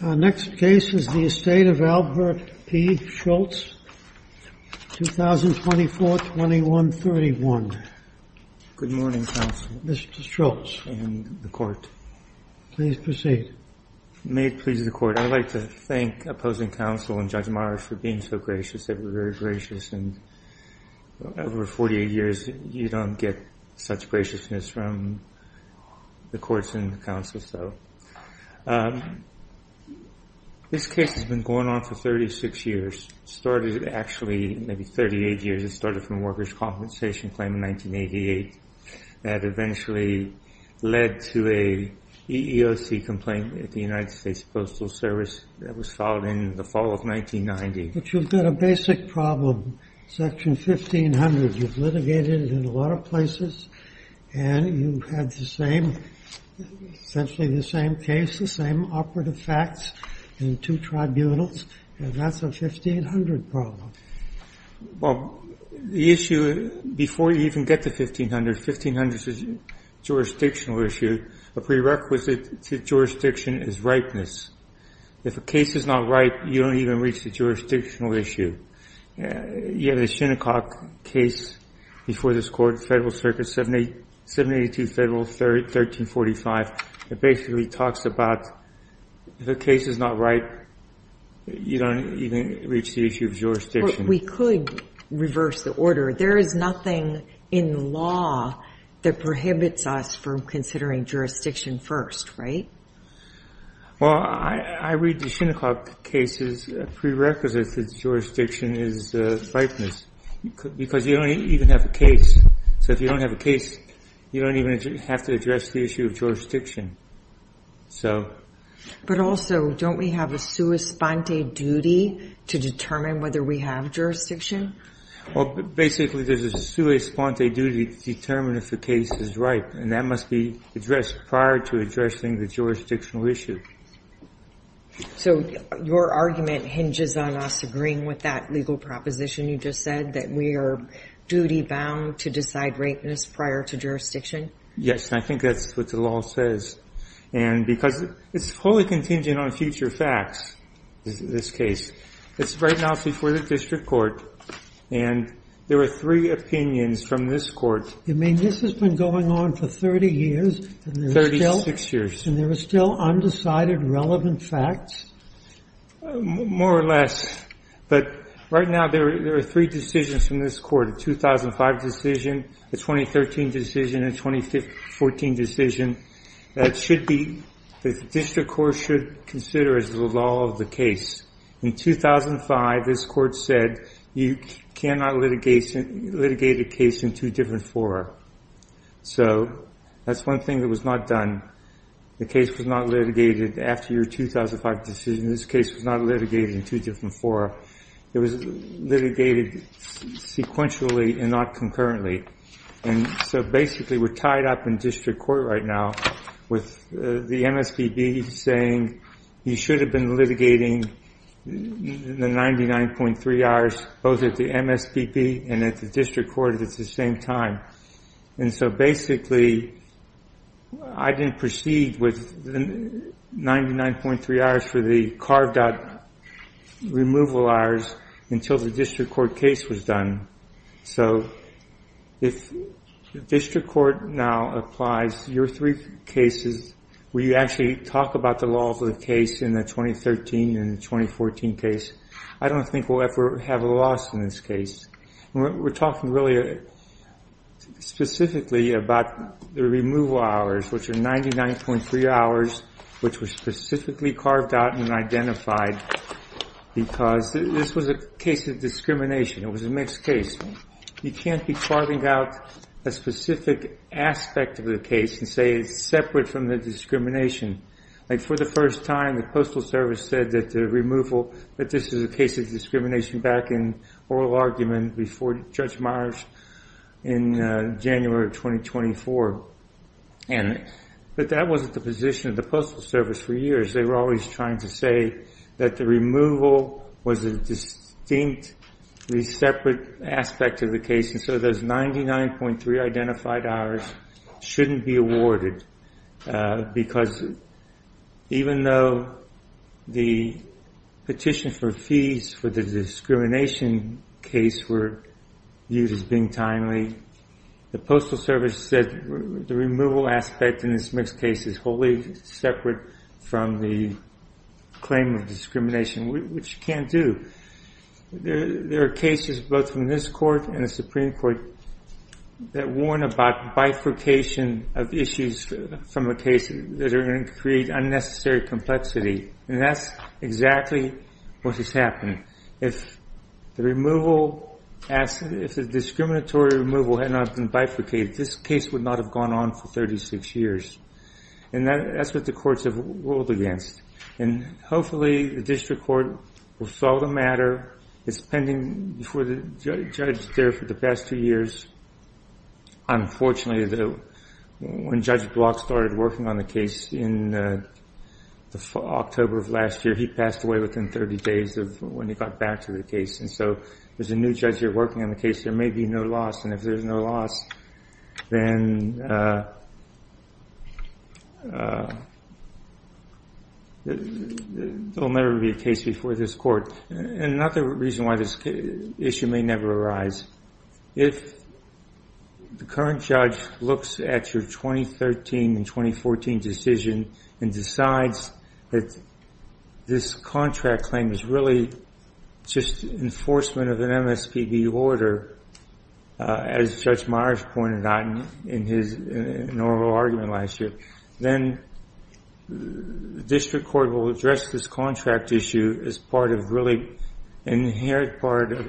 Next case is the estate of Albert P. Schultz, 2024-2131. Good morning, counsel. Mr. Schultz. And the court. Please proceed. May it please the court, I'd like to thank opposing counsel and Judge Morris for being so gracious. They were very gracious. And over 48 years, you don't get such graciousness from the courts and the counsels, though. This case has been going on for 36 years. Started, actually, maybe 38 years. It started from a workers' compensation claim in 1988. That eventually led to a EEOC complaint at the United States Postal Service that was filed in the fall of 1990. But you've got a basic problem. Section 1500, you've litigated it in a lot of places. And you had the same, essentially the same case, the same operative facts in two tribunals. And that's a 1500 problem. Well, the issue, before you even get to 1500, 1500 is a jurisdictional issue. A prerequisite to jurisdiction is rightness. If a case is not right, you don't even reach the jurisdictional issue. You have the Shinnecock case before this court, Federal Circuit 782 Federal 1345. It basically talks about if a case is not right, you don't even reach the issue of jurisdiction. But we could reverse the order. There is nothing in law that prohibits us from considering jurisdiction first, right? Well, I read the Shinnecock case as a prerequisite to jurisdiction is rightness. Because you don't even have a case. So if you don't have a case, you don't even have to address the issue of jurisdiction. But also, don't we have a sua sponte duty to determine whether we have jurisdiction? Well, basically, there's a sua sponte duty to determine if the case is right. And that must be addressed prior to addressing the jurisdictional issue. So your argument hinges on us agreeing with that legal proposition you just said, that we are duty bound to decide rightness prior to jurisdiction? Yes, and I think that's what the law says. And because it's fully contingent on future facts, this case. It's right now before the district court. And there are three opinions from this court. You mean this has been going on for 30 years? 36 years. And there are still undecided relevant facts? More or less. But right now, there are three decisions from this court. A 2005 decision, a 2013 decision, and a 2014 decision. That should be, the district court should consider as the law of the case. In 2005, this court said, you cannot litigate a case in two different fora. So that's one thing that was not done. The case was not litigated after your 2005 decision. This case was not litigated in two different fora. It was litigated sequentially and not concurrently. And so basically, we're tied up in district court right now with the MSPB saying, you should have been litigating the 99.3 hours, both at the MSPB and at the district court at the same time. And so basically, I didn't proceed with the 99.3 hours for the carved out removal hours until the district court case was done. So if the district court now applies your three cases, we actually talk about the law of the case in the 2013 and the 2014 case, I don't think we'll ever have a loss in this case. We're talking really specifically about the removal hours, which are 99.3 hours, which were specifically carved out and identified because this was a case of discrimination. It was a mixed case. You can't be carving out a specific aspect of the case and say it's separate from the discrimination. For the first time, the Postal Service said that the removal, that this is a case of discrimination back in oral argument before Judge Myers in January of 2024. But that wasn't the position of the Postal Service for years. They were always trying to say that the removal was a distinctly separate aspect of the case. And so those 99.3 identified hours shouldn't be awarded because even though the petition for fees for the discrimination case were used as being timely, the Postal Service said the removal aspect in this mixed case is wholly separate from the claim of discrimination, which you can't do. There are cases, both in this court and the Supreme Court, that warn about bifurcation of issues from a case that are going to create unnecessary complexity. And that's exactly what has happened. If the discriminatory removal had not been bifurcated, this case would not have gone on for 36 years. And that's what the courts have ruled against. And hopefully, the district court will solve the matter. It's pending before the judge there for the past two years. Unfortunately, when Judge Block started working on the case in October of last year, he passed away within 30 days of when he got back to the case. And so there's a new judge here working on the case. There may be no loss. And if there's no loss, then there will never be a case before this court. And another reason why this issue may never arise, if the current judge looks at your 2013 and 2014 decision and decides that this contract claim is really just enforcement of an MSPB order, as Judge Myers pointed out in his inaugural argument last year, then the district court will address this contract issue as part of really inherent part of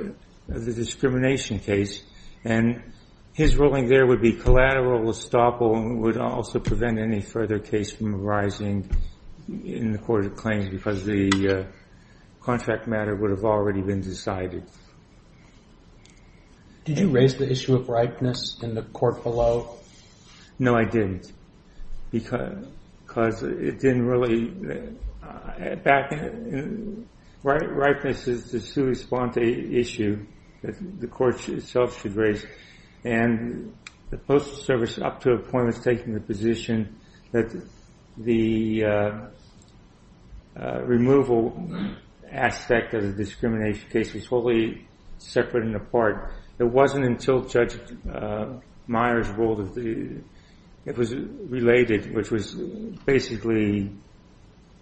the discrimination case. And his ruling there would be collateral estoppel and would also prevent any further case from arising in the court of claims because the contract matter would have already been decided. Did you raise the issue of ripeness in the court below? No, I didn't. Because it didn't really add back. Ripeness is the sui sponte issue that the court itself should raise. And the Postal Service, up to a point, was taking the position that the removal aspect of the discrimination case was totally separate and apart. It wasn't until Judge Myers ruled it was related, which was basically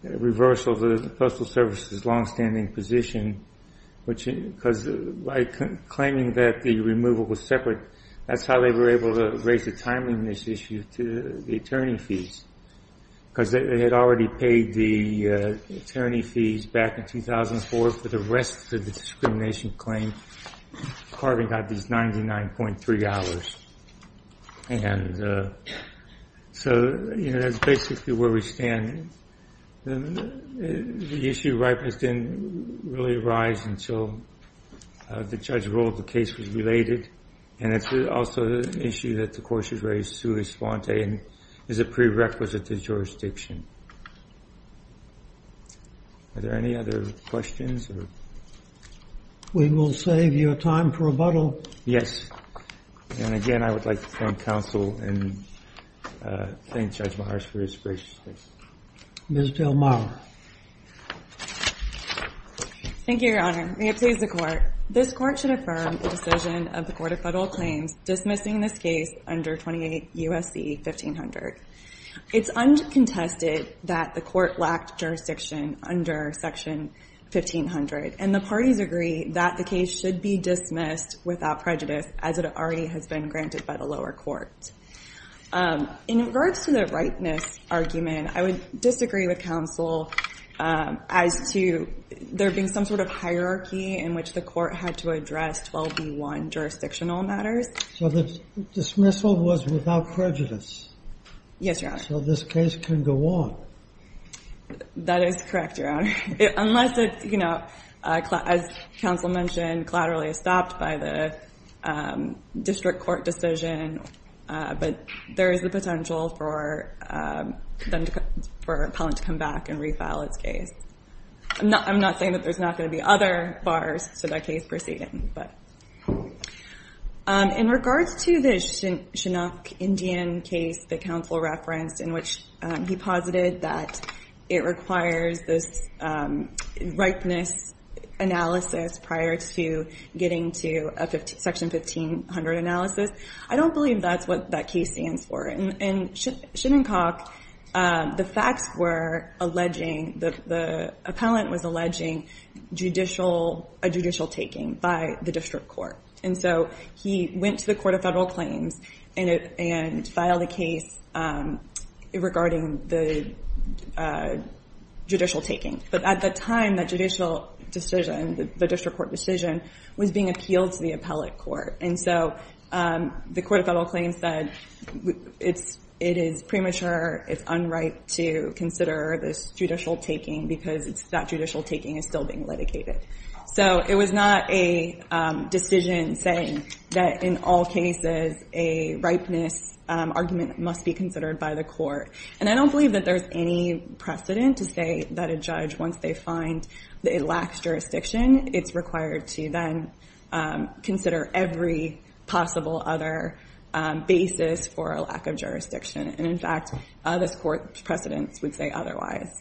reversal of the Postal Service's longstanding position. Because by claiming that the removal was separate, that's how they were able to raise the timeliness issue to the attorney fees. Because they had already paid the attorney fees back in 2004 for the rest of the discrimination claim, carving out these $99.3. And so that's basically where we stand. The issue of ripeness didn't really arise until the judge ruled the case was related. And it's also an issue that the court should raise sui sponte and is a prerequisite to jurisdiction. Are there any other questions? We will save you time for rebuttal. Yes. And again, I would like to thank counsel and thank Judge Myers for his graciousness. Ms. Del Mar. Thank you, Your Honor. May it please the Court. This court should affirm the decision of the Court of Federal Claims dismissing this case under 28 U.S.C. 1500. It's uncontested that the court lacked jurisdiction under section 1500. And the parties agree that the case should be dismissed without prejudice, as it already has been granted by the lower court. In regards to the ripeness argument, I would disagree with counsel as to there being some sort of hierarchy in which the court had to address 12B1 jurisdictional matters. So the dismissal was without prejudice. Yes, Your Honor. So this case can go on. That is correct, Your Honor. Unless it's, as counsel mentioned, collaterally stopped by the district court decision. But there is the potential for a client to come back and refile its case. I'm not saying that there's not going to be other bars to that case proceeding. In regards to the Chinook Indian case that counsel referenced, in which he posited that it requires this ripeness analysis prior to getting to a section 1500 analysis, I don't believe that's what that case stands for. In Chinook, the facts were alleging, the appellant was alleging a judicial taking by the district court. And so he went to the Court of Federal Claims and filed a case regarding the judicial taking. But at the time, that judicial decision, the district court was being appealed to the appellate court. And so the Court of Federal Claims said it is premature, it's unright to consider this judicial taking, because that judicial taking is still being litigated. So it was not a decision saying that in all cases, a ripeness argument must be considered by the court. And I don't believe that there's any precedent to say that a judge, once they find that it lacks jurisdiction, it's required to then consider every possible other basis for a lack of jurisdiction. And in fact, this court's precedents would say otherwise.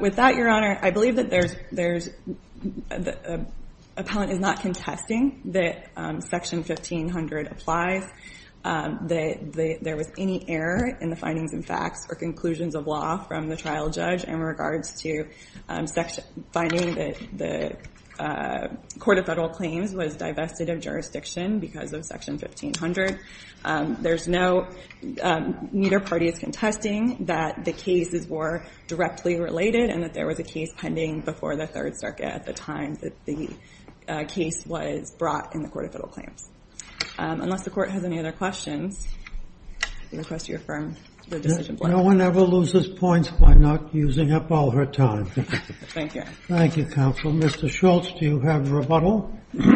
With that, Your Honor, I believe that the appellant is not contesting that section 1500 applies, that there was any error in the findings and facts or conclusions of law from the trial judge in regards to finding that the Court of Federal Claims was divested of jurisdiction because of section 1500. There's no, neither party is contesting that the cases were directly related and that there was a case pending before the Third Circuit at the time that the case was brought in the Court of Federal Claims. Unless the Court has any other questions, I request you affirm the decision. No one ever loses points by not using up all her time. Thank you. Thank you, counsel. Mr. Schultz, do you have a rebuttal? I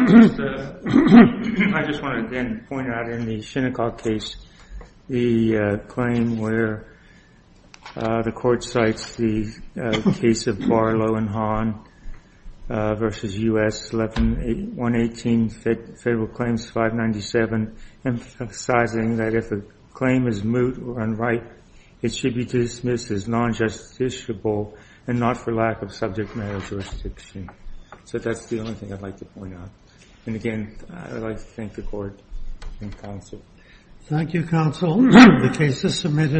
just want to then point out in the Shinnecock case, the claim where the court cites the case of Barlow and Hahn versus US 1118 Federal Claims 597, emphasizing that if a claim is moot or unright, it should be dismissed as non-justiciable and not for lack of subject matter jurisdiction. So that's the only thing I'd like to point out. And again, I'd like to thank the court and counsel. Thank you, counsel. The case is submitted.